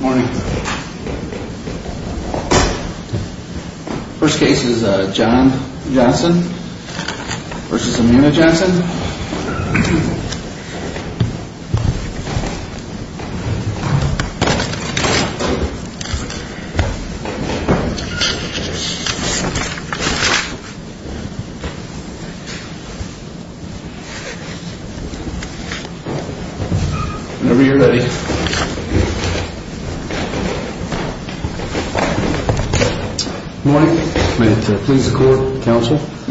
Morning. First case is John Johnson v. Amina Johnson. Whenever you're ready.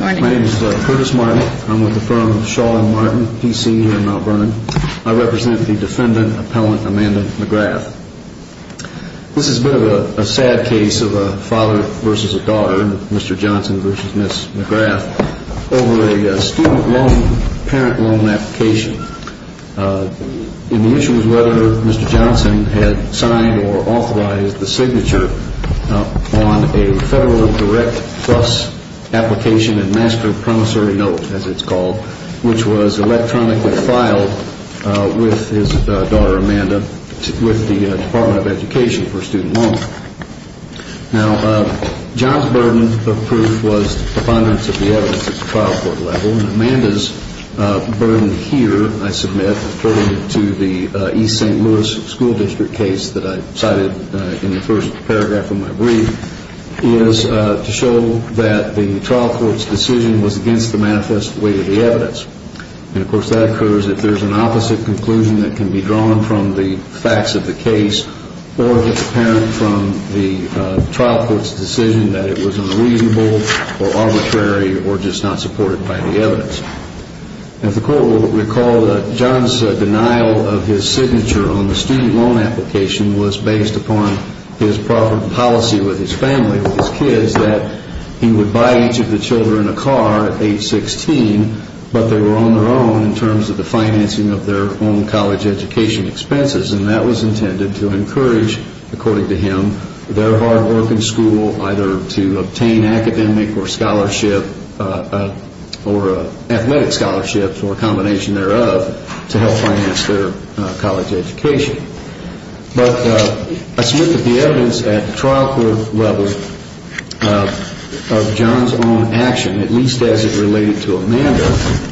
I represent the defendant, Appellant Amanda McGrath. This is a bit of a sad case of a father v. daughter, Mr. Johnson v. Ms. McGrath, over a student loan, parent loan application. And the issue was whether Mr. Johnson had signed or authorized the signature on a federal direct plus application and master promissory note, as it's called, which was electronically filed with his daughter, Amanda, with the Department of Education for a student loan. Now, John's burden of proof was the abundance of the evidence at the trial court level. And Amanda's burden here, I submit, according to the East St. Louis School District case that I cited in the first paragraph of my brief, is to show that the trial court's decision was against the manifest weight of the evidence. And, of course, that occurs if there's an opposite conclusion that can be drawn from the facts of the case or if it's apparent from the trial court's decision that it was unreasonable or arbitrary or just not supported by the evidence. As the court will recall, John's denial of his signature on the student loan application was based upon his policy with his family, with his kids, that he would buy each of the children a car at age 16, but they were on their own in terms of the financing of their own college education expenses. And that was intended to encourage, according to him, their hard work in school either to obtain academic or scholarship or athletic scholarships or a combination thereof to help finance their college education. But I submit that the evidence at the trial court level of John's own action, at least as it related to Amanda,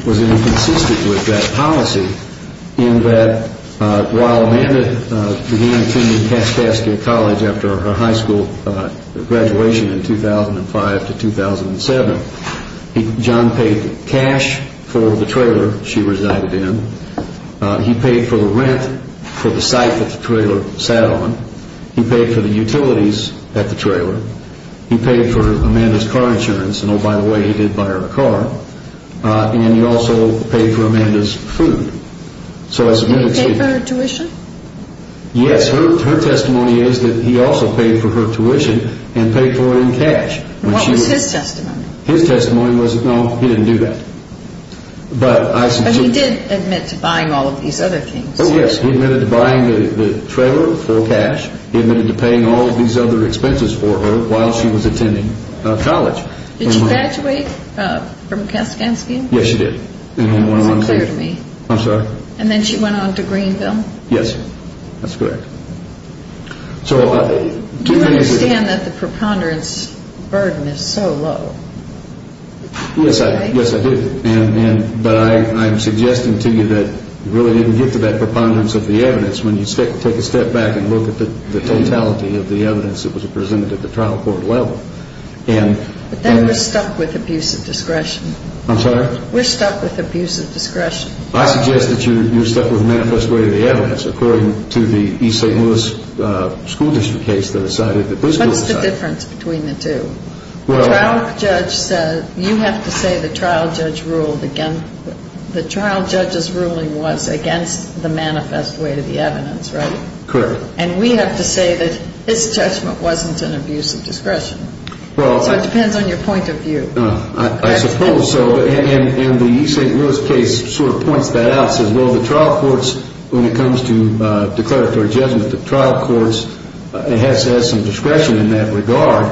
was inconsistent with that policy in that while Amanda began attending Pascascia College after her high school graduation in 2005 to 2007, John paid cash for the trailer she resided in. He paid for the rent for the site that the trailer sat on. He paid for the utilities at the trailer. He paid for Amanda's car insurance. And, oh, by the way, he did buy her a car. And he also paid for Amanda's food. Did he pay for her tuition? Yes. Her testimony is that he also paid for her tuition and paid for it in cash. What was his testimony? His testimony was that, no, he didn't do that. But he did admit to buying all of these other things. Oh, yes. He admitted to buying the trailer for cash. He admitted to paying all of these other expenses for her while she was attending college. Did she graduate from Kaskansky? Yes, she did. Is that clear to me? I'm sorry? And then she went on to Greenville? Yes. That's correct. Do you understand that the preponderance burden is so low? Yes, I do. But I'm suggesting to you that you really didn't get to that preponderance of the evidence when you take a step back and look at the totality of the evidence that was presented at the trial court level. But then we're stuck with abuse of discretion. I'm sorry? We're stuck with abuse of discretion. I suggest that you're stuck with manifest way of the evidence, according to the East St. Louis School District case that was cited. What's the difference between the two? You have to say the trial judge's ruling was against the manifest way of the evidence, right? Correct. And we have to say that his judgment wasn't an abuse of discretion. So it depends on your point of view. I suppose so. And the East St. Louis case sort of points that out. It says, well, the trial courts, when it comes to declaratory judgment, it has some discretion in that regard,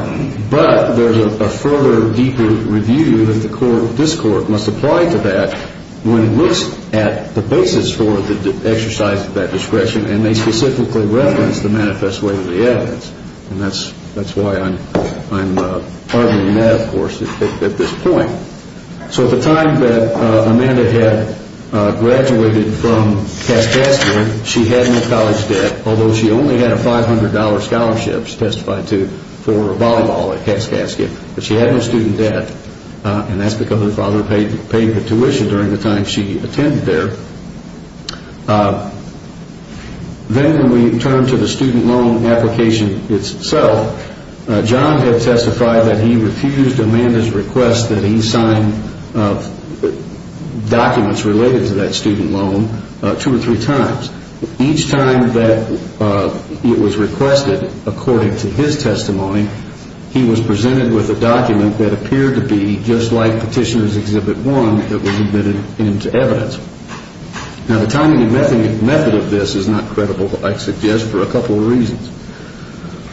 but there's a further, deeper review that this court must apply to that when it looks at the basis for the exercise of that discretion, and they specifically reference the manifest way of the evidence. And that's why I'm arguing that, of course, at this point. So at the time that Amanda had graduated from Cascadia, she had no college debt, although she only had a $500 scholarship, she testified to, for volleyball at Cascadia. But she had no student debt, and that's because her father paid the tuition during the time she attended there. Then when we turn to the student loan application itself, John had testified that he refused Amanda's request that he sign documents related to that student loan two or three times. Each time that it was requested, according to his testimony, he was presented with a document that appeared to be just like Petitioner's Exhibit 1 that was admitted into evidence. Now, the timing and method of this is not credible, I suggest, for a couple of reasons.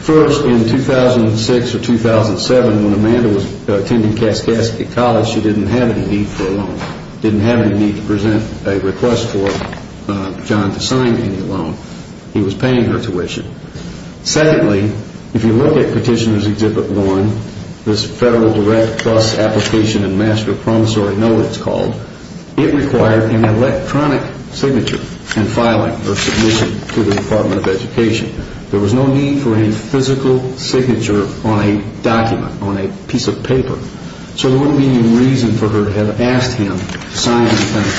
First, in 2006 or 2007, when Amanda was attending Cascadia College, she didn't have any need for a loan, didn't have any need to present a request for John to sign any loan. He was paying her tuition. Secondly, if you look at Petitioner's Exhibit 1, this Federal Direct Trust Application and Master Promissory Note, it's called, it required an electronic signature and filing or submission to the Department of Education. There was no need for any physical signature on a document, on a piece of paper. So there wouldn't be any reason for her to have asked him to sign an independent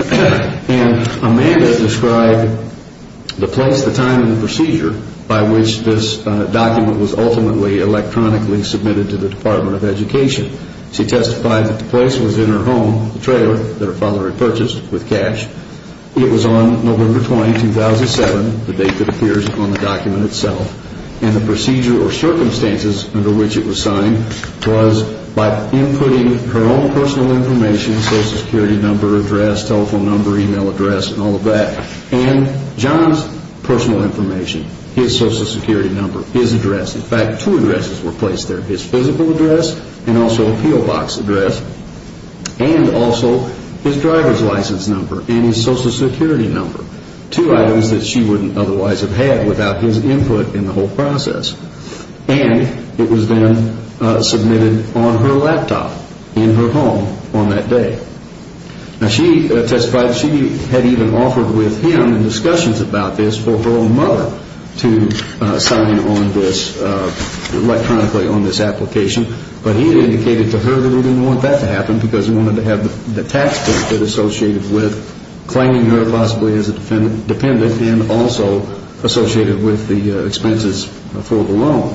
document. And Amanda described the place, the time, and the procedure by which this document was ultimately electronically submitted to the Department of Education. She testified that the place was in her home, the trailer that her father had purchased with cash. It was on November 20, 2007, the date that appears on the document itself, and the procedure or circumstances under which it was signed was by inputting her own personal information, social security number, address, telephone number, email address, and all of that, and John's personal information, his social security number, his address. In fact, two addresses were placed there, his physical address and also a P.O. Box address, and also his driver's license number and his social security number, two items that she wouldn't otherwise have had without his input in the whole process. And it was then submitted on her laptop in her home on that day. Now, she testified she had even offered with him discussions about this for her own mother to sign on this electronically, on this application, but he had indicated to her that he didn't want that to happen because he wanted to have the tax benefit associated with claiming her possibly as a dependent and also associated with the expenses for the loan.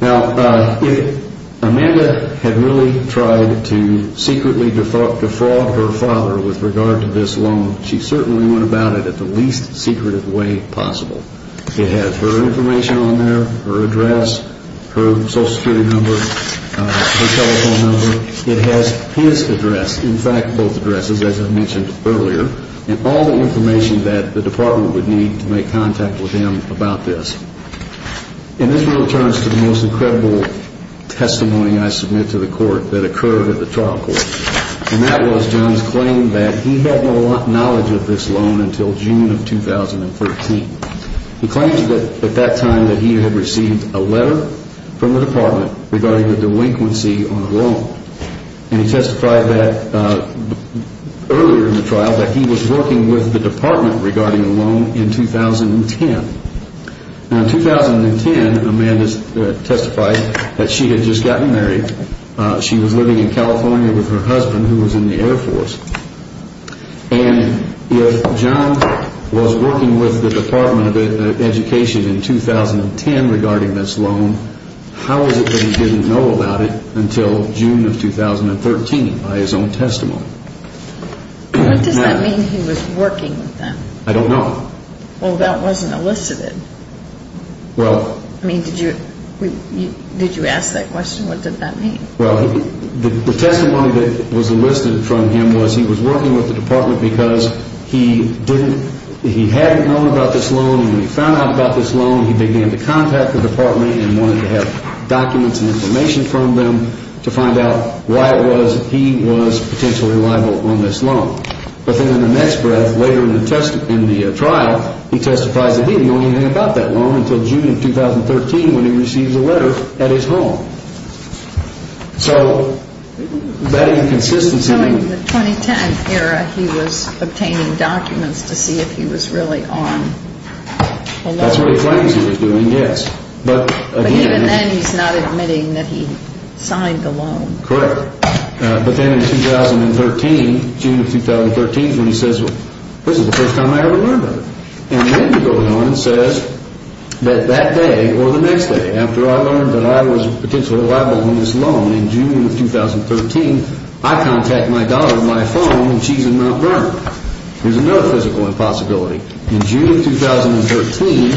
Now, if Amanda had really tried to secretly defraud her father with regard to this loan, she certainly went about it at the least secretive way possible. It has her information on there, her address, her social security number, her telephone number. It has his address, in fact, both addresses, as I mentioned earlier, and all the information that the department would need to make contact with him about this. And this really turns to the most incredible testimony I submit to the court that occurred at the trial court, and that was John's claim that he had no knowledge of this loan until June of 2013. He claimed at that time that he had received a letter from the department regarding the delinquency on the loan, and he testified earlier in the trial that he was working with the department regarding the loan in 2010. Now, in 2010, Amanda testified that she had just gotten married. She was living in California with her husband, who was in the Air Force. And if John was working with the Department of Education in 2010 regarding this loan, how is it that he didn't know about it until June of 2013 by his own testimony? What does that mean, he was working with them? I don't know. Well, that wasn't elicited. I mean, did you ask that question? What did that mean? Well, the testimony that was enlisted from him was he was working with the department because he hadn't known about this loan, and when he found out about this loan, he began to contact the department and wanted to have documents and information from them to find out why it was that he was potentially liable on this loan. But then in the next breath, later in the trial, he testifies that he had known anything about that loan until June of 2013 when he receives a letter at his home. So that inconsistency. So in the 2010 era, he was obtaining documents to see if he was really on the loan. That's what he claims he was doing, yes. But even then, he's not admitting that he signed the loan. Correct. But then in June of 2013 is when he says, this is the first time I ever learned of it. And then he goes on and says that that day or the next day after I learned that I was potentially liable on this loan in June of 2013, I contact my daughter on my phone and she's in Mount Vernon. There's another physical impossibility. In June of 2013,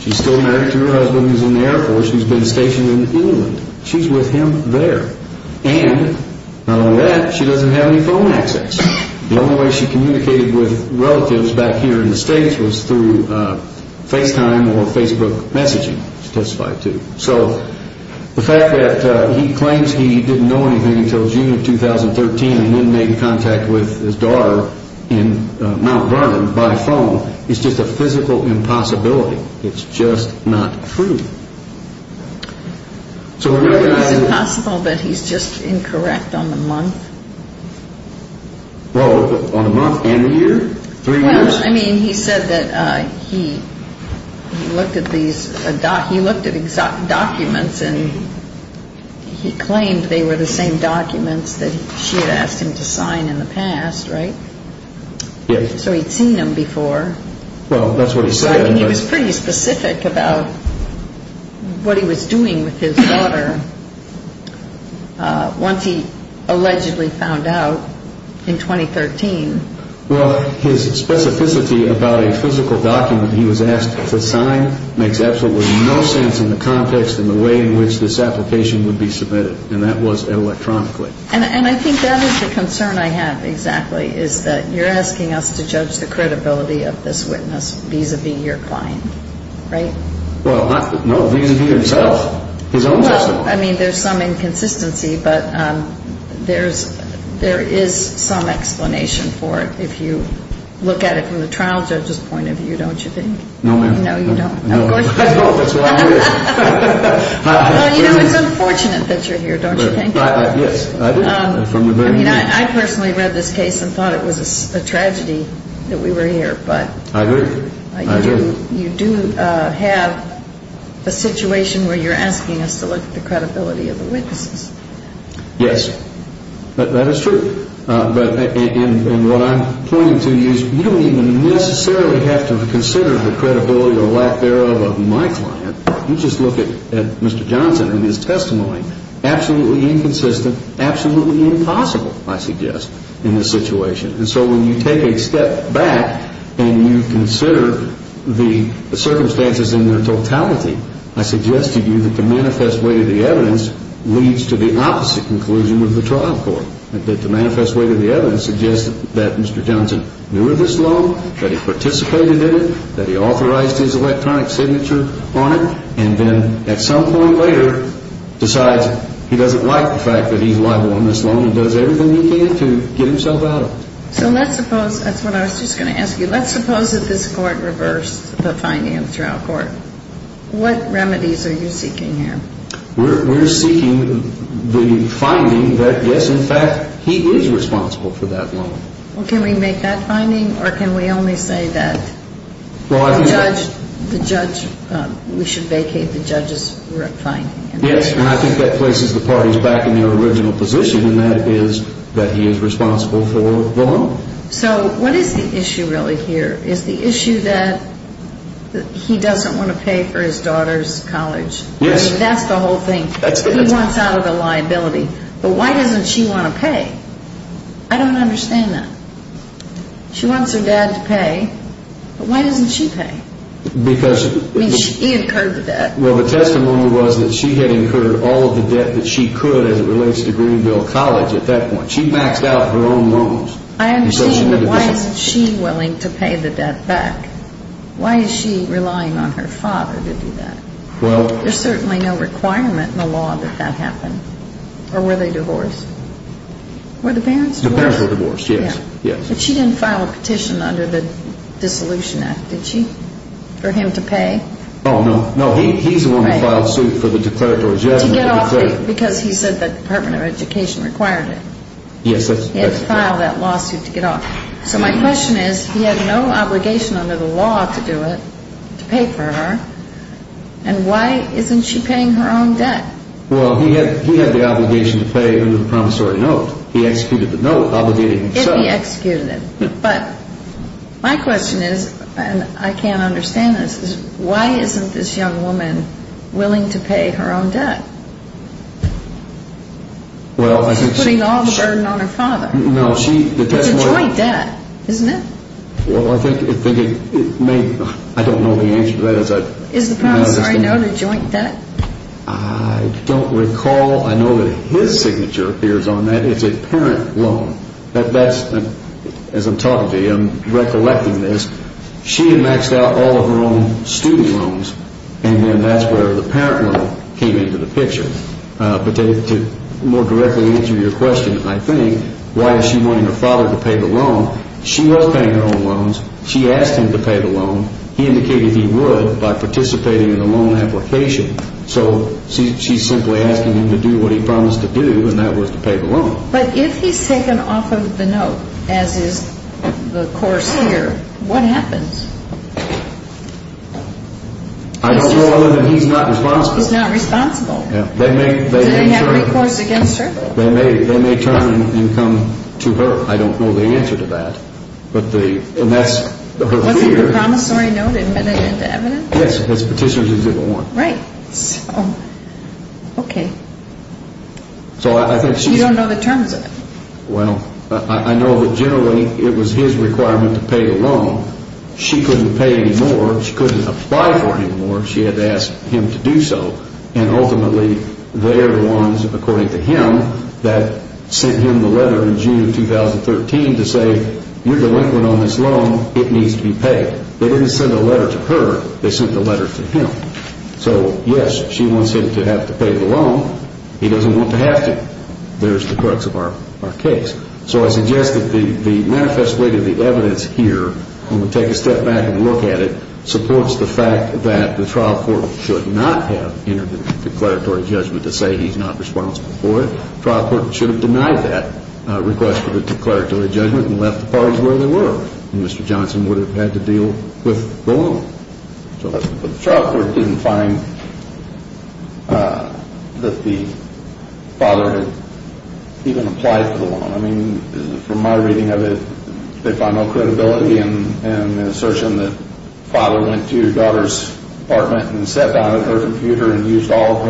she's still married to her husband who's in the Air Force who's been stationed in England. She's with him there. And not only that, she doesn't have any phone access. The only way she communicated with relatives back here in the States was through FaceTime or Facebook messaging, she testified to. So the fact that he claims he didn't know anything until June of 2013 and then made contact with his daughter in Mount Vernon by phone is just a physical impossibility. It's just not true. Is it possible that he's just incorrect on the month? Well, on the month and the year? Three years? I mean, he said that he looked at these documents and he claimed they were the same documents that she had asked him to sign in the past, right? Yes. So he'd seen them before. Well, that's what he said. And he was pretty specific about what he was doing with his daughter once he allegedly found out in 2013. Well, his specificity about a physical document he was asked to sign makes absolutely no sense in the context and the way in which this application would be submitted, and that was electronically. And I think that is the concern I have, exactly, is that you're asking us to judge the credibility of this witness vis-à-vis your client, right? Well, no, vis-à-vis himself, his own sister. Well, I mean, there's some inconsistency, but there is some explanation for it if you look at it from the trial judge's point of view, don't you think? No, ma'am. No, you don't. No, that's why I'm here. Well, you know, it's unfortunate that you're here, don't you think? Yes, I do. I mean, I personally read this case and thought it was a tragedy that we were here. I agree. You do have a situation where you're asking us to look at the credibility of the witnesses. Yes, that is true. And what I'm pointing to is you don't even necessarily have to consider the credibility or lack thereof of my client. You just look at Mr. Johnson and his testimony. Absolutely inconsistent, absolutely impossible, I suggest, in this situation. And so when you take a step back and you consider the circumstances in their totality, I suggest to you that the manifest way to the evidence leads to the opposite conclusion of the trial court, that the manifest way to the evidence suggests that Mr. Johnson knew of this loan, that he participated in it, that he authorized his electronic signature on it, and then at some point later decides he doesn't like the fact that he's liable on this loan and does everything he can to get himself out of it. So let's suppose, that's what I was just going to ask you, let's suppose that this court reversed the finding of the trial court. What remedies are you seeking here? We're seeking the finding that, yes, in fact, he is responsible for that loan. Well, can we make that finding, or can we only say that the judge, we should vacate the judge's finding? Yes, and I think that places the parties back in their original position, and that is that he is responsible for the loan. So what is the issue really here? Is the issue that he doesn't want to pay for his daughter's college? Yes. I mean, that's the whole thing. He wants out of the liability, but why doesn't she want to pay? I don't understand that. She wants her dad to pay, but why doesn't she pay? Because... I mean, he incurred the debt. Well, the testimony was that she had incurred all of the debt that she could as it relates to Greenville College at that point. She maxed out her own loans. I understand, but why isn't she willing to pay the debt back? Why is she relying on her father to do that? Well... There's certainly no requirement in the law that that happened. Or were they divorced? Were the parents divorced? The parents were divorced, yes. But she didn't file a petition under the Dissolution Act, did she, for him to pay? Oh, no. No, he's the one who filed suit for the declaratory judgment. To get off the... Because he said the Department of Education required it. Yes, that's correct. He had to file that lawsuit to get off. So my question is, he had no obligation under the law to do it, to pay for her, and why isn't she paying her own debt? Well, he had the obligation to pay under the promissory note. He executed the note obligating himself. If he executed it. But my question is, and I can't understand this, is why isn't this young woman willing to pay her own debt? Well, I think she... She's putting all the burden on her father. No, she... It's a joint debt, isn't it? Well, I think it may... I don't know the answer to that. Is the promissory note a joint debt? I don't recall. I know that his signature appears on that. It's a parent loan. That's... As I'm talking to you, I'm recollecting this. She had maxed out all of her own student loans, and then that's where the parent loan came into the picture. But to more directly answer your question, I think, why is she wanting her father to pay the loan? She was paying her own loans. She asked him to pay the loan. He indicated he would by participating in the loan application. So she's simply asking him to do what he promised to do, and that was to pay the loan. But if he's taken off of the note, as is the course here, what happens? I don't know other than he's not responsible. He's not responsible. Do they have recourse against her? They may turn and come to her. I don't know the answer to that. And that's her fear. Wasn't the promissory note admitted into evidence? Yes, as petitioner's exhibit 1. Right. Okay. You don't know the terms of it. Well, I know that generally it was his requirement to pay the loan. She couldn't pay anymore. She couldn't apply for anymore. She had to ask him to do so. And ultimately, they're the ones, according to him, that sent him the letter in June of 2013 to say, you're delinquent on this loan. It needs to be paid. They didn't send a letter to her. They sent the letter to him. So, yes, she wants him to have to pay the loan. He doesn't want to have to. There's the crux of our case. So I suggest that the manifest way to the evidence here, when we take a step back and look at it, supports the fact that the trial court should not have entered the declaratory judgment to say he's not responsible for it. The trial court should have denied that request for the declaratory judgment and left the parties where they were. And Mr. Johnson would have had to deal with the loan. But the trial court didn't find that the father had even applied for the loan. I mean, from my reading of it, they found no credibility in the assertion that the father went to his daughter's apartment and sat down at her computer and used all of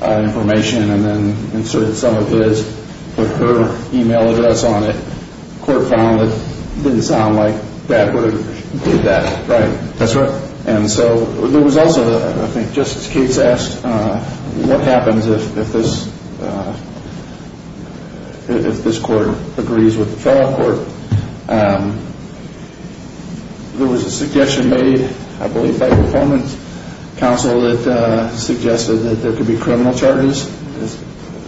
her information and then inserted some of his or her email address on it. The court found it didn't sound like Dad would have did that. Right. That's right. And so there was also, I think Justice Cates asked, what happens if this court agrees with the trial court? There was a suggestion made, I believe, by the performance council that suggested that there could be criminal charges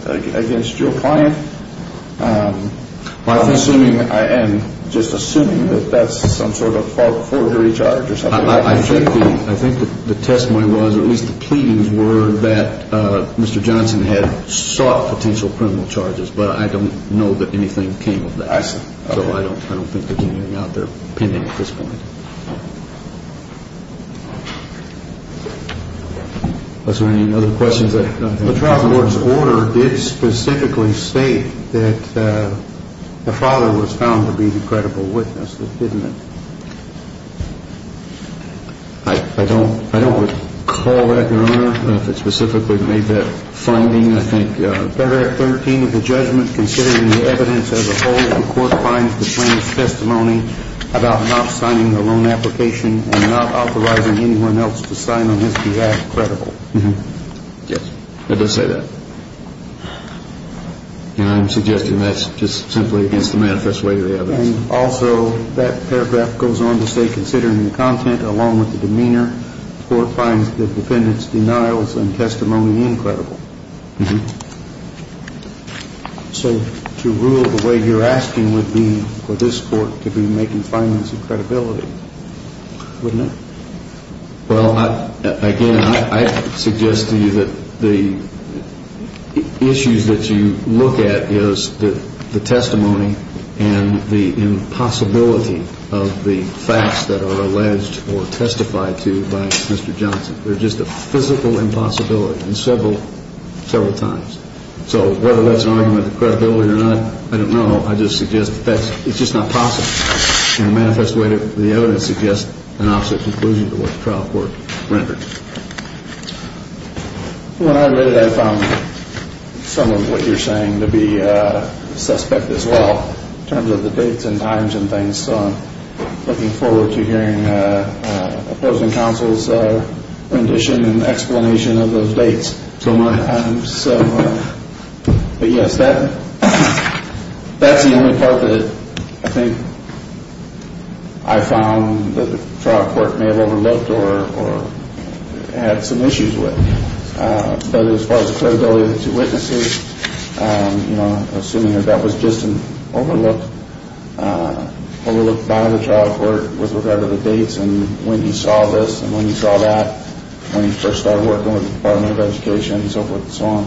against Joe Plante. I'm just assuming that that's some sort of forgery charge or something like that. I think the testimony was, or at least the pleadings were, that Mr. Johnson had sought potential criminal charges, but I don't know that anything came of that. I see. So I don't think there's anything out there pending at this point. Are there any other questions? The trial court's order did specifically state that the father was found to be the credible witness. Didn't it? I don't recall that, Your Honor, if it specifically made that finding. I think paragraph 13 of the judgment, considering the evidence as a whole that the court finds the plaintiff's testimony about not signing the loan application and not authorizing anyone else to sign on this behalf credible. Yes, it does say that. And I'm suggesting that's just simply against the manifest way of the evidence. And also that paragraph goes on to say, considering the content along with the demeanor, the court finds the defendant's denials and testimony incredible. So to rule the way you're asking would be for this court to be making findings of credibility, wouldn't it? Well, again, I suggest to you that the issues that you look at is the testimony and the impossibility of the facts that are alleged or testified to by Mr. Johnson. They're just a physical impossibility and several times. So whether that's an argument of credibility or not, I don't know. I just suggest it's just not possible in a manifest way that the evidence suggests an opposite conclusion to what the trial court rendered. Well, I admit it, I found some of what you're saying to be suspect as well in terms of the dates and times and things. So I'm looking forward to hearing opposing counsel's rendition and explanation of those dates. But, yes, that's the only part that I think I found that the trial court may have overlooked or had some issues with. But as far as the credibility of the two witnesses, you know, assuming that that was just an overlook by the trial court with regard to the dates and when you saw this and when you saw that, when you first started working with the Department of Education and so forth and so on,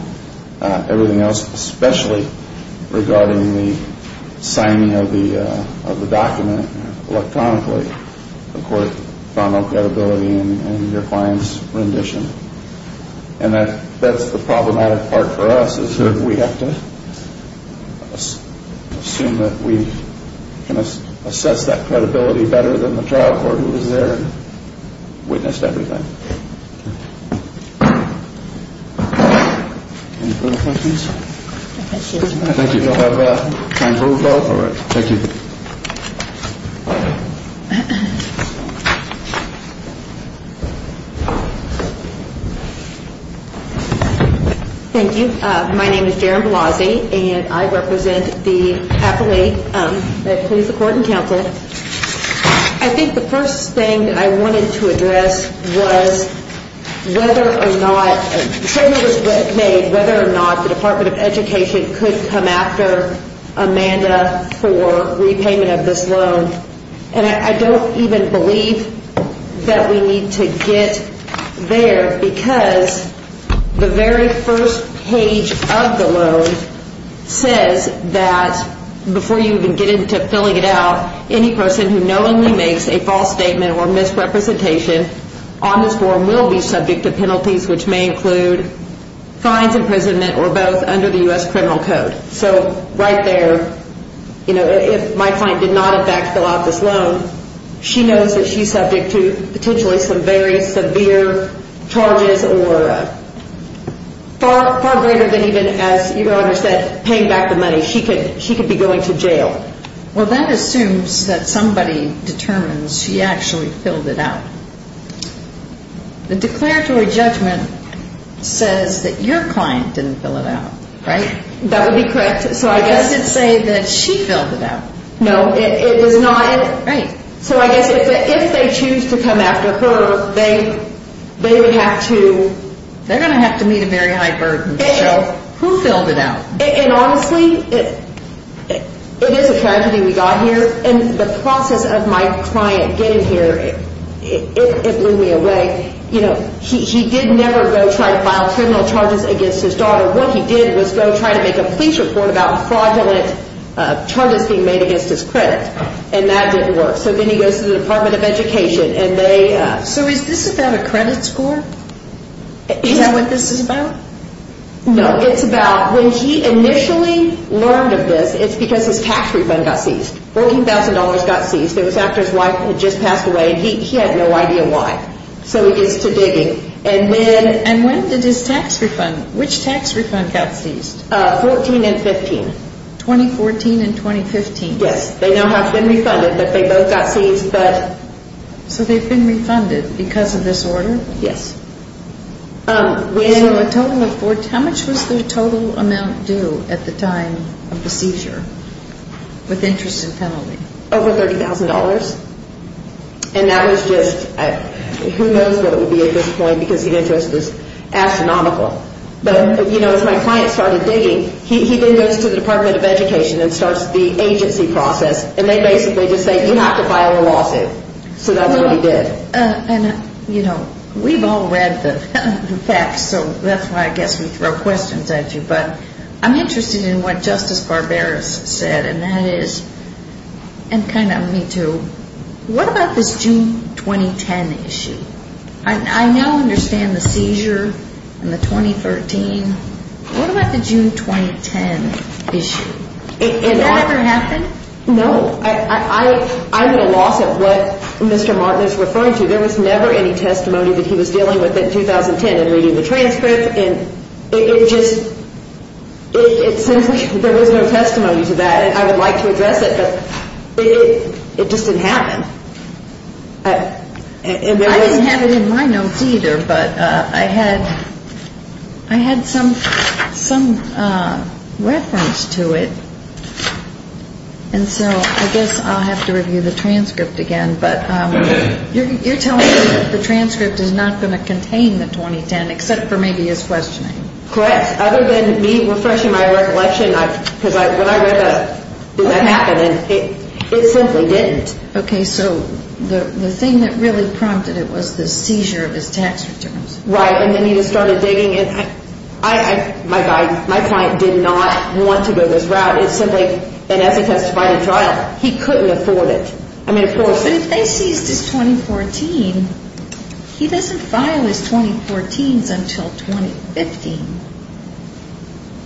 everything else, especially regarding the signing of the document electronically, the court found no credibility in your client's rendition. And that's the problematic part for us is that we have to assume that we can assess that credibility better than the trial court who was there and witnessed everything. Any further questions? I think you'll have time for a vote. Thank you. Thank you. My name is Jaron Blasey, and I represent the affiliate that plays the court and counsel. I think the first thing that I wanted to address was whether or not the treatment was made, whether or not the Department of Education could come after Amanda for repayment of this loan. And I don't even believe that we need to get there because the very first page of the loan says that before you even get into filling it out, any person who knowingly makes a false statement or misrepresentation on this form will be subject to penalties, which may include fines, imprisonment, or both, under the U.S. criminal code. So right there, if my client did not, in fact, fill out this loan, she knows that she's subject to potentially some very severe charges or far greater than even, as your Honor said, paying back the money. She could be going to jail. Well, that assumes that somebody determines she actually filled it out. The declaratory judgment says that your client didn't fill it out, right? That would be correct. It doesn't say that she filled it out. No, it does not. Right. So I guess if they choose to come after her, they would have to... They're going to have to meet a very high burden. So who filled it out? And honestly, it is a tragedy we got here. And the process of my client getting here, it blew me away. You know, he did never go try to file criminal charges against his daughter. What he did was go try to make a police report about fraudulent charges being made against his credit, and that didn't work. So then he goes to the Department of Education, and they... So is this about a credit score? Is that what this is about? No, it's about when he initially learned of this, it's because his tax refund got seized. $14,000 got seized. It was after his wife had just passed away, and he had no idea why. So he gets to digging. And when did his tax refund, which tax refund got seized? 14 and 15. 2014 and 2015? Yes. They now have been refunded, but they both got seized, but... So they've been refunded because of this order? Yes. So a total of 14... How much was the total amount due at the time of the seizure with interest and penalty? Over $30,000. And that was just... Who knows what it would be at this point, because the interest is astronomical. But, you know, as my client started digging, he then goes to the Department of Education and starts the agency process, and they basically just say, You have to file a lawsuit. So that's what he did. And, you know, we've all read the facts, so that's why I guess we throw questions at you. But I'm interested in what Justice Barberos said, and that is... And kind of me too. What about this June 2010 issue? I now understand the seizure and the 2013. What about the June 2010 issue? Did that ever happen? No. I'm at a loss of what Mr. Martin is referring to. There was never any testimony that he was dealing with in 2010 in reading the transcript. And it just... It seems like there was no testimony to that, and I would like to address it. But it just didn't happen. I didn't have it in my notes either, but I had some reference to it. And so I guess I'll have to review the transcript again. But you're telling me that the transcript is not going to contain the 2010, except for maybe his questioning. Correct. And other than me refreshing my recollection, because when I read that, did that happen? And it simply didn't. Okay, so the thing that really prompted it was the seizure of his tax returns. Right, and then he just started digging. And my client did not want to go this route. It simply... And as he testified in trial, he couldn't afford it. I mean, of course. But if they seized his 2014, he doesn't file his 2014s until 2015.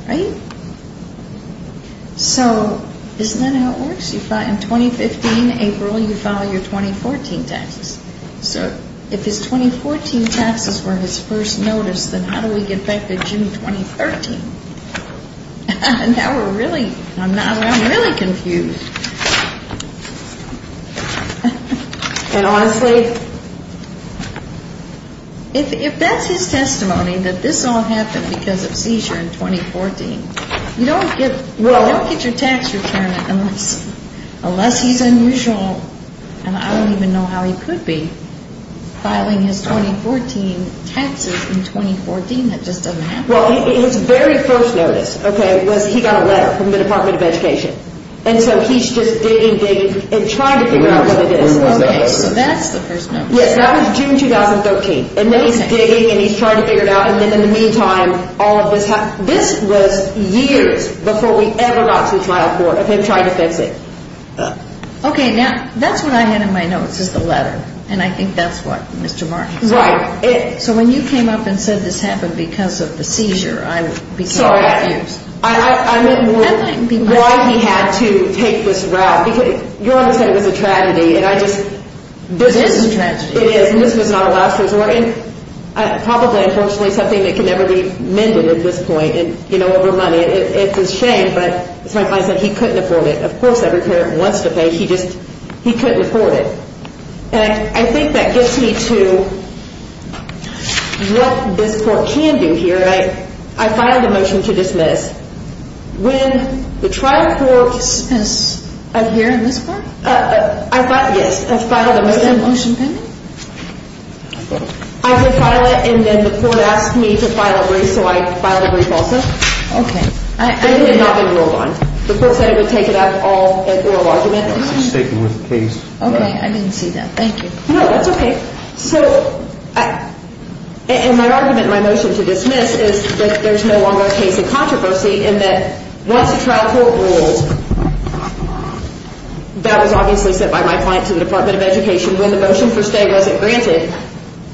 Right? So isn't that how it works? In 2015, April, you file your 2014 taxes. So if his 2014 taxes were his first notice, then how do we get back to June 2013? Now we're really... I'm really confused. And honestly? If that's his testimony, that this all happened because of seizure in 2014, you don't get your tax return unless he's unusual. And I don't even know how he could be filing his 2014 taxes in 2014. That just doesn't happen. Well, his very first notice, okay, was he got a letter from the Department of Education. And so he's just digging, digging and trying to figure out what it is. Okay, so that's the first notice. Yes, that was June 2013. And then he's digging and he's trying to figure it out. And then in the meantime, all of this happened. This was years before we ever got to the trial court of him trying to fix it. Okay, now that's what I had in my notes is the letter. And I think that's what Mr. Martin said. Right. So when you came up and said this happened because of the seizure, I would be so confused. Sorry, I meant more why he had to take this route. Because your Honor said it was a tragedy, and I just... This is a tragedy. It is, and this was not a last resort. And probably, unfortunately, something that can never be mended at this point, you know, over money. It's a shame, but as my client said, he couldn't afford it. Of course every parent wants to pay, he just couldn't afford it. And I think that gets me to what this court can do here. I filed a motion to dismiss. When the trial court... Is up here in this court? I filed, yes, I filed a motion. Is that a motion pending? I did file it, and then the court asked me to file a brief, so I filed a brief also. Okay. But it had not been ruled on. The court said it would take it up all at oral argument. Okay, I didn't see that. Thank you. No, that's okay. So in my argument, my motion to dismiss is that there's no longer a case in controversy in that once the trial court rules, that was obviously sent by my client to the Department of Education when the motion for stay wasn't granted.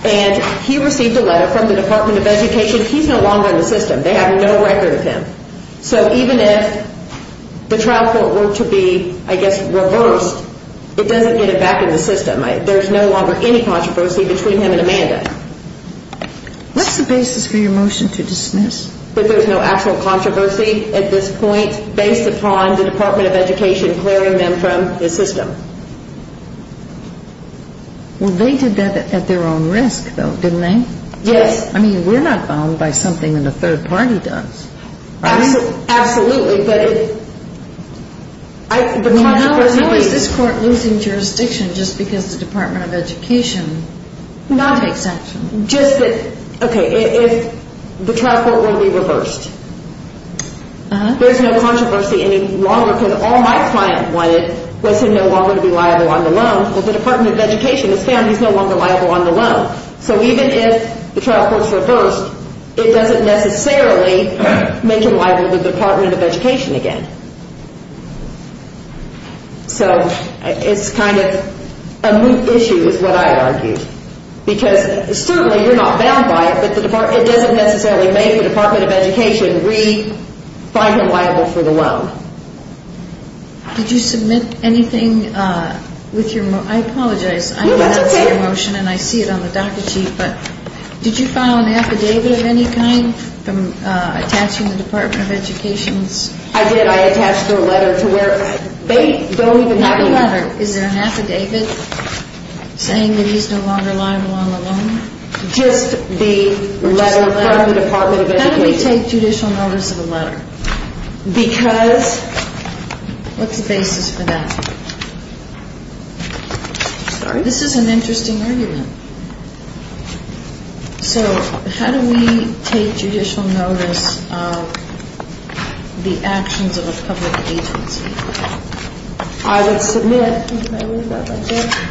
And he received a letter from the Department of Education. He's no longer in the system. They have no record of him. So even if the trial court were to be, I guess, reversed, it doesn't get it back in the system. There's no longer any controversy between him and Amanda. What's the basis for your motion to dismiss? That there's no actual controversy at this point based upon the Department of Education clearing them from the system. Well, they did that at their own risk, though, didn't they? Yes. I mean, we're not bound by something that a third party does. Absolutely. How is this court losing jurisdiction just because the Department of Education not takes action? Just that, okay, if the trial court were to be reversed, there's no controversy any longer because all my client wanted was him no longer to be liable on the loan. Well, the Department of Education has found he's no longer liable on the loan. So even if the trial court's reversed, it doesn't necessarily make him liable to the Department of Education again. So it's kind of a moot issue is what I'd argue because certainly you're not bound by it, but it doesn't necessarily make the Department of Education re-find him liable for the loan. Did you submit anything with your motion? I apologize. No, that's okay. I did submit a motion, and I see it on the docket sheet, but did you file an affidavit of any kind from attaching the Department of Education's? I did. I attached their letter to where they don't even have a name. Not a letter. Is there an affidavit saying that he's no longer liable on the loan? Just the letter from the Department of Education. How do we take judicial notice of a letter? Because? What's the basis for that? Sorry? This is an interesting argument. So how do we take judicial notice of the actions of a public agency? I would submit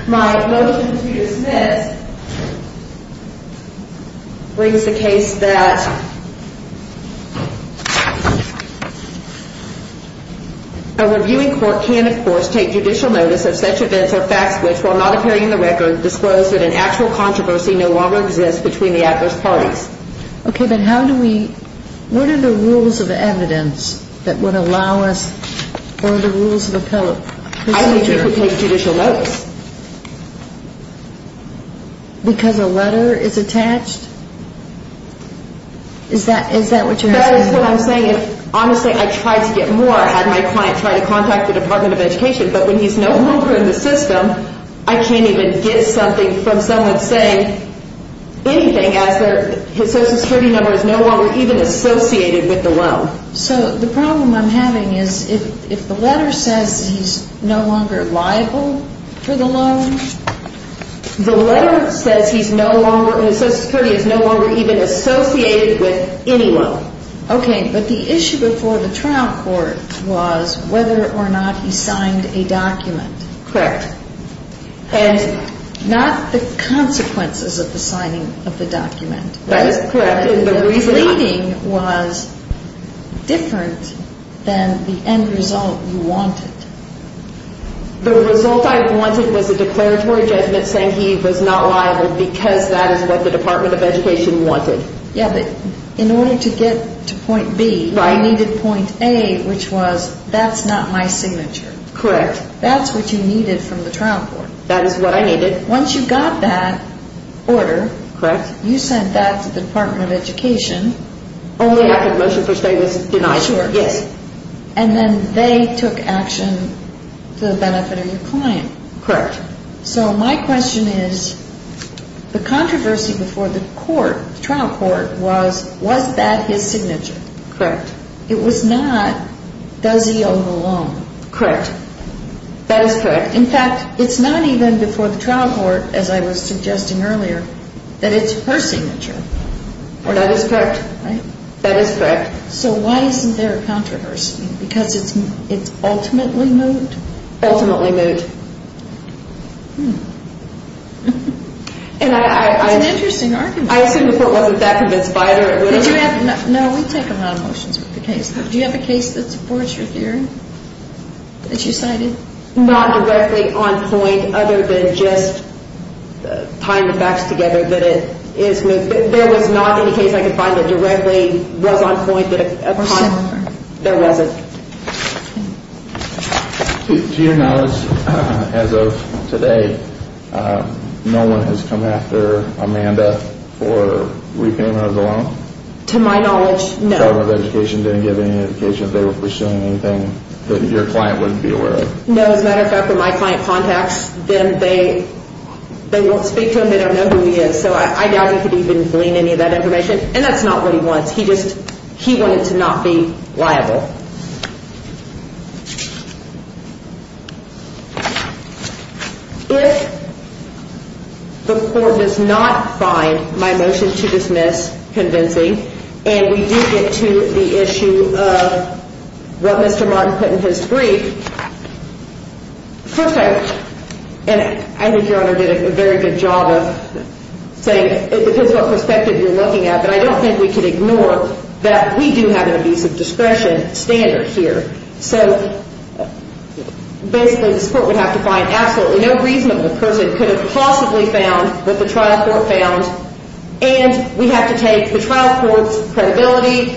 my motion to dismiss brings the case that a reviewing court can, of course, take judicial notice of such events or facts which, while not appearing in the record, disclose that an actual controversy no longer exists between the adverse parties. Okay, but how do we, what are the rules of evidence that would allow us, or the rules of appellate procedure? I think it would take judicial notice. Because a letter is attached? Is that what you're asking? That is what I'm saying. Honestly, I tried to get more. I had my client try to contact the Department of Education, but when he's no longer in the system, I can't even get something from someone saying anything, as their social security number is no longer even associated with the loan. So the problem I'm having is if the letter says he's no longer liable for the loan? The letter says he's no longer, his social security is no longer even associated with any loan. Okay, but the issue before the trial court was whether or not he signed a document. Correct. And not the consequences of the signing of the document. That is correct. The reading was different than the end result you wanted. The result I wanted was a declaratory judgment saying he was not liable because that is what the Department of Education wanted. Yeah, but in order to get to point B, you needed point A, which was that's not my signature. Correct. That's what you needed from the trial court. That is what I needed. Once you got that order. Correct. You sent that to the Department of Education. Only after the motion for stay was denied. Sure. Yes. And then they took action to the benefit of your client. Correct. So my question is, the controversy before the court, trial court was, was that his signature? Correct. It was not, does he own the loan? Correct. That is correct. In fact, it's not even before the trial court, as I was suggesting earlier, that it's her signature. That is correct. Right? That is correct. So why isn't there a controversy? Because it's ultimately moot? Ultimately moot. It's an interesting argument. I assume the court wasn't that convinced by it or it would have been. No, we take a lot of motions with the case. Do you have a case that supports your theory? That you cited? Not directly on point other than just tying the facts together that it is moot. There was not any case I could find that directly was on point. Or similar. There wasn't. To your knowledge, as of today, no one has come after Amanda for repayment of the loan? To my knowledge, no. The Department of Education didn't give any indication that they were pursuing anything that your client wouldn't be aware of? No. As a matter of fact, when my client contacts them, they won't speak to him. They don't know who he is. So I doubt he could even glean any of that information. And that's not what he wants. He just wanted to not be liable. If the court does not find my motion to dismiss convincing, and we do get to the issue of what Mr. Martin put in his brief, first I, and I think Your Honor did a very good job of saying it depends what perspective you're looking at, but I don't think we can ignore that we do have an abuse of discretion. So basically this court would have to find absolutely no reason that the person could have possibly found what the trial court found, and we have to take the trial court's credibility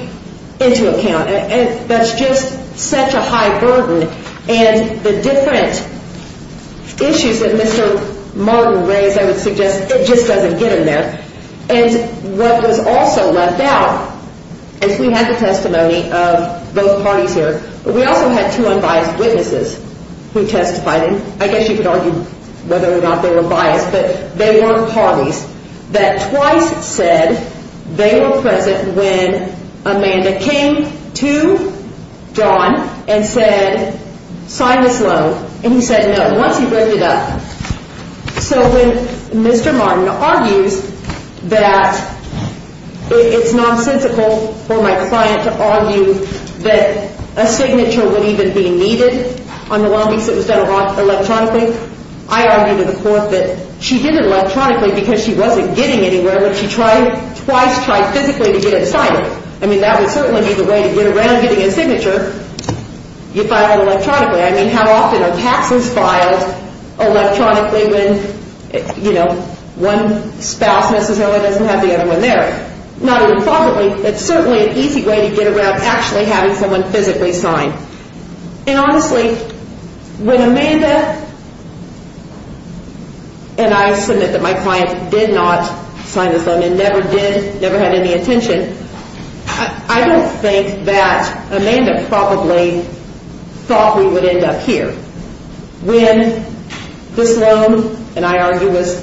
into account. And that's just such a high burden. And the different issues that Mr. Martin raised, I would suggest it just doesn't get him there. And what was also left out, as we had the testimony of both parties here, but we also had two unbiased witnesses who testified, and I guess you could argue whether or not they were biased, but they weren't parties, that twice said they were present when Amanda came to John and said, sign this loan. And he said no, once he wrote it up. So when Mr. Martin argues that it's nonsensical for my client to argue that a signature would even be needed on the loan because it was done electronically, I argue to the court that she did it electronically because she wasn't getting anywhere, but she twice tried physically to get it signed. I mean, that would certainly be the way to get around getting a signature. You file it electronically. I mean, how often are taxes filed electronically when, you know, one spouse necessarily doesn't have the other one there? Not only positively, but certainly an easy way to get around actually having someone physically sign. And honestly, when Amanda and I submit that my client did not sign this loan and never did, never had any intention, I don't think that Amanda probably thought we would end up here. When this loan, and I argue was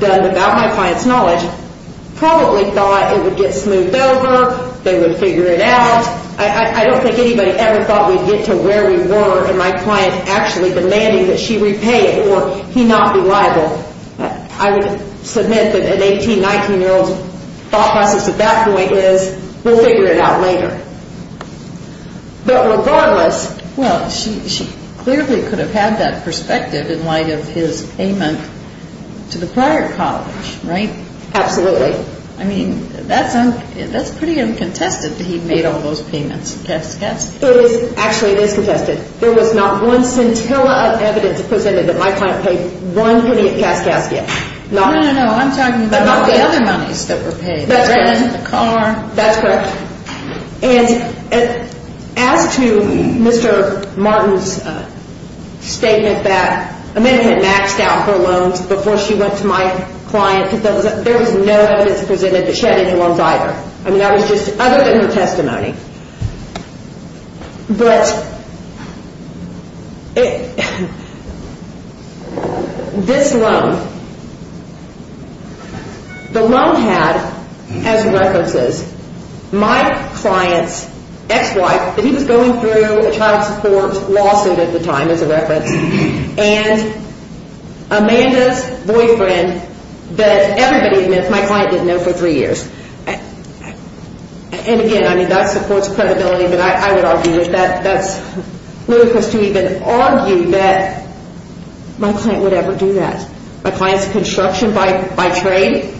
done without my client's knowledge, probably thought it would get smoothed over, they would figure it out. I don't think anybody ever thought we'd get to where we were and my client actually demanding that she repay it or he not be liable. I would submit that an 18, 19-year-old's thought process at that point is we'll figure it out later. But regardless. Well, she clearly could have had that perspective in light of his payment to the prior college, right? Absolutely. I mean, that's pretty uncontested that he made all those payments, cask, cask. It is. Actually, it is contested. There was not one scintilla of evidence presented that my client paid one penny at cask, cask yet. No, no, no. I'm talking about the other monies that were paid. That's correct. The rent, the car. That's correct. And as to Mr. Martin's statement that Amanda had maxed out her loans before she went to my client, there was no evidence presented that she had any loans either. I mean, that was just other than her testimony. But this loan, the loan had as references my client's ex-wife that he was going through a child support lawsuit at the time as a reference and Amanda's boyfriend that everybody admits my client didn't know for three years. And again, I mean, that supports credibility, but I would argue that that's ludicrous to even argue that my client would ever do that. My client's construction by trade.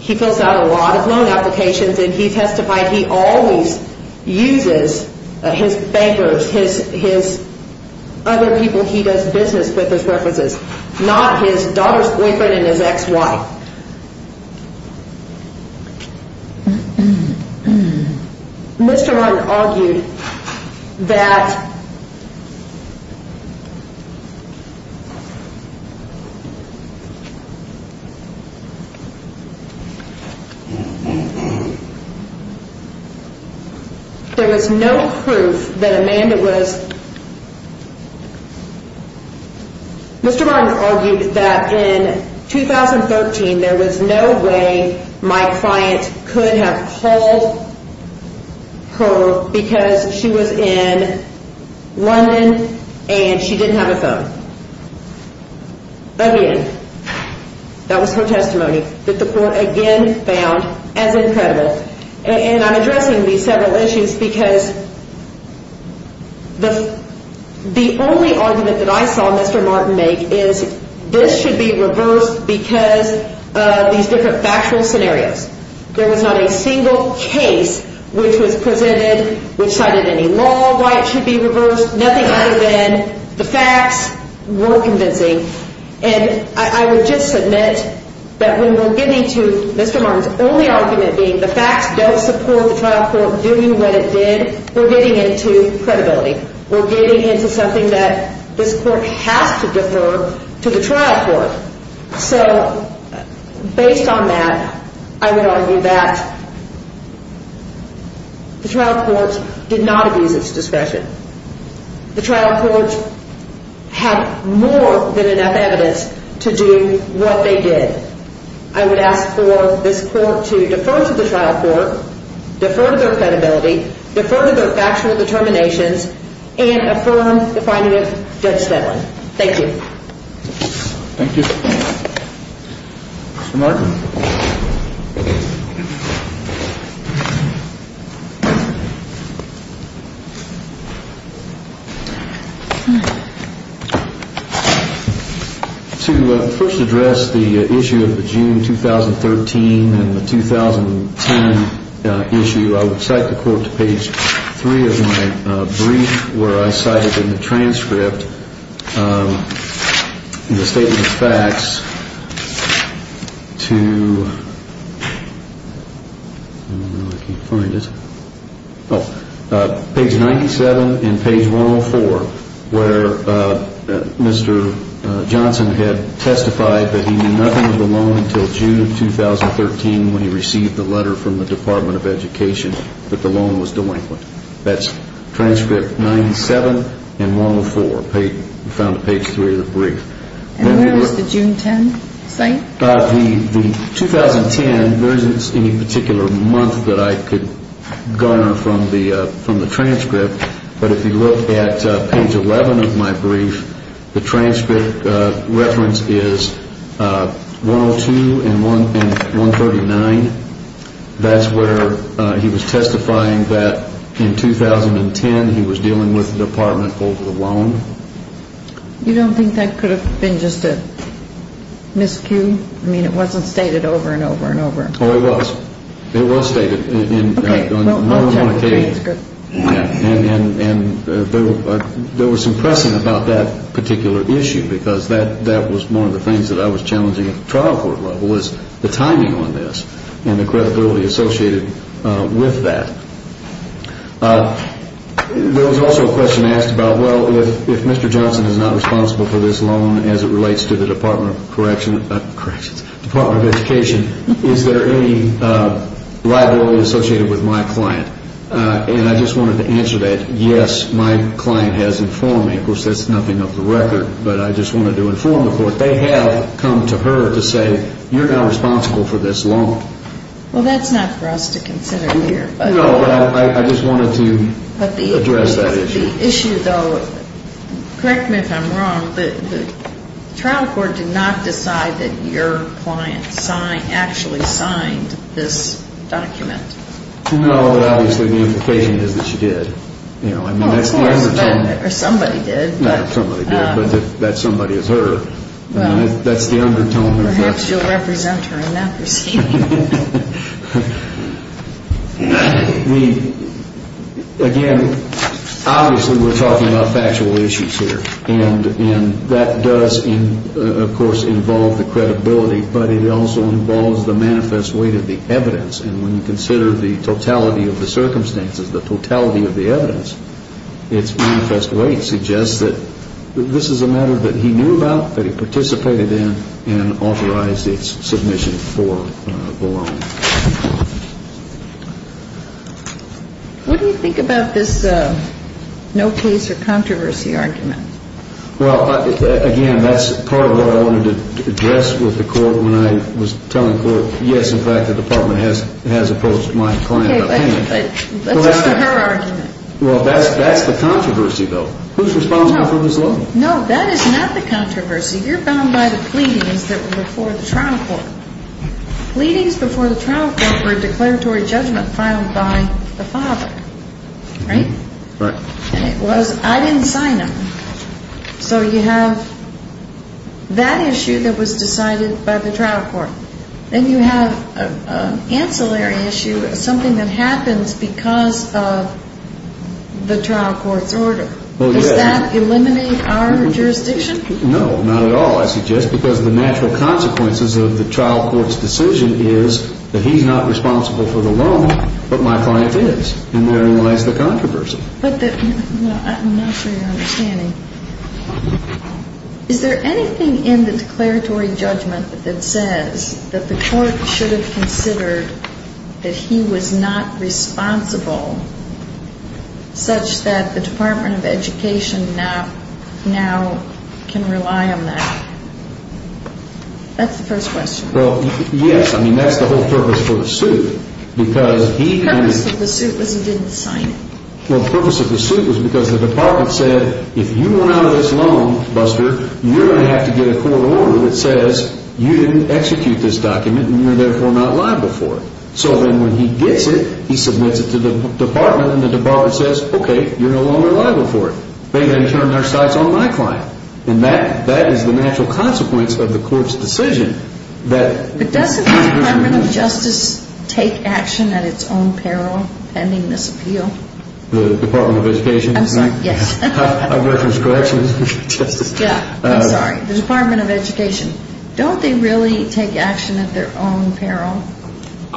He fills out a lot of loan applications, and he testified he always uses his bankers, his other people he does business with as references, not his daughter's boyfriend and his ex-wife. Mr. Martin argued that there was no proof that Amanda was – could have called her because she was in London and she didn't have a phone. Again, that was her testimony that the court again found as incredible. And I'm addressing these several issues because the only argument that I saw Mr. Martin make is this should be reversed because of these different factual scenarios. There was not a single case which was presented which cited any law why it should be reversed, nothing other than the facts were convincing. And I would just submit that when we're getting to Mr. Martin's only argument being the facts don't support the trial court doing what it did, we're getting into credibility. We're getting into something that this court has to defer to the trial court. So based on that, I would argue that the trial court did not abuse its discretion. The trial court had more than enough evidence to do what they did. I would ask for this court to defer to the trial court, defer to their credibility, defer to their factual determinations, and affirm the finding of Judge Stedland. Thank you. Thank you. To first address the issue of the June 2013 and the 2010 issue, I would cite the court to page three of my brief where I cited in the transcript the statement of facts to the page 97 and page 104 where Mr. Johnson had testified that he knew nothing of the loan until June 2013 when he received the letter from the Department of Education that the loan was delinquent. That's transcript 97 and 104. Page three of the brief. And where was the June 10 cite? The 2010, there isn't any particular month that I could garner from the transcript, but if you look at page 11 of my brief, the transcript reference is 102 and 139. That's where he was testifying that in 2010 he was dealing with the department over the loan. You don't think that could have been just a miscue? I mean, it wasn't stated over and over and over. Oh, it was. It was stated on more than one occasion. Okay. And there was some pressing about that particular issue because that was one of the things that I was challenging at the trial court level was the timing on this and the credibility associated with that. There was also a question asked about, well, if Mr. Johnson is not responsible for this loan as it relates to the Department of Education, is there any liability associated with my client? And I just wanted to answer that, yes, my client has informed me. Of course, that's nothing of the record, but I just wanted to inform the court. They have come to her to say, you're now responsible for this loan. Well, that's not for us to consider here. No, I just wanted to address that issue. But the issue, though, correct me if I'm wrong, the trial court did not decide that your client actually signed this document. No, but obviously the implication is that she did. Well, of course, or somebody did. Not that somebody did, but that somebody is her. Well, perhaps you'll represent her in that proceeding. Again, obviously we're talking about factual issues here. And that does, of course, involve the credibility, but it also involves the manifest weight of the evidence. And when you consider the totality of the circumstances, the totality of the evidence, its manifest weight suggests that this is a matter that he knew about, that he participated in and authorized its submission for the loan. What do you think about this no case or controversy argument? Well, again, that's part of what I wanted to address with the court when I was telling the court, yes, in fact, the Department has approached my client. Okay, but that's just a her argument. Well, that's the controversy, though. Who's responsible for this loan? No, that is not the controversy. You're bound by the pleadings that were before the trial court. Pleadings before the trial court were a declaratory judgment filed by the father, right? Right. And it was, I didn't sign them. So you have that issue that was decided by the trial court. Then you have an ancillary issue, something that happens because of the trial court's order. Does that eliminate our jurisdiction? No, not at all, I suggest, because the natural consequences of the trial court's decision is that he's not responsible for the loan, but my client is. And therein lies the controversy. I'm not sure you're understanding. Is there anything in the declaratory judgment that says that the court should have considered that he was not responsible such that the Department of Education now can rely on that? That's the first question. Well, yes. I mean, that's the whole purpose for the suit. The purpose of the suit was he didn't sign it. Well, the purpose of the suit was because the department said, if you want out of this loan, Buster, you're going to have to get a court order that says you didn't execute this document and you're therefore not liable for it. So then when he gets it, he submits it to the department and the department says, okay, you're no longer liable for it. They then turn their sights on my client. And that is the natural consequence of the court's decision. But doesn't the Department of Justice take action at its own peril pending this appeal? The Department of Education? I'm sorry. Yes. I've referenced corrections. Yeah. I'm sorry. The Department of Education. Don't they really take action at their own peril?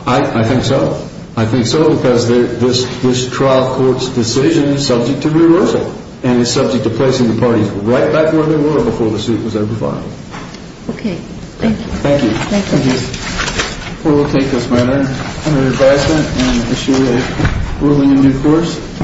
I think so. I think so because this trial court's decision is subject to reversal and is subject to placing the parties right back where they were before the suit was ever filed. Okay. Thank you. Thank you. Thank you. Thank you. We'll take this matter under advisement and issue a ruling in due course.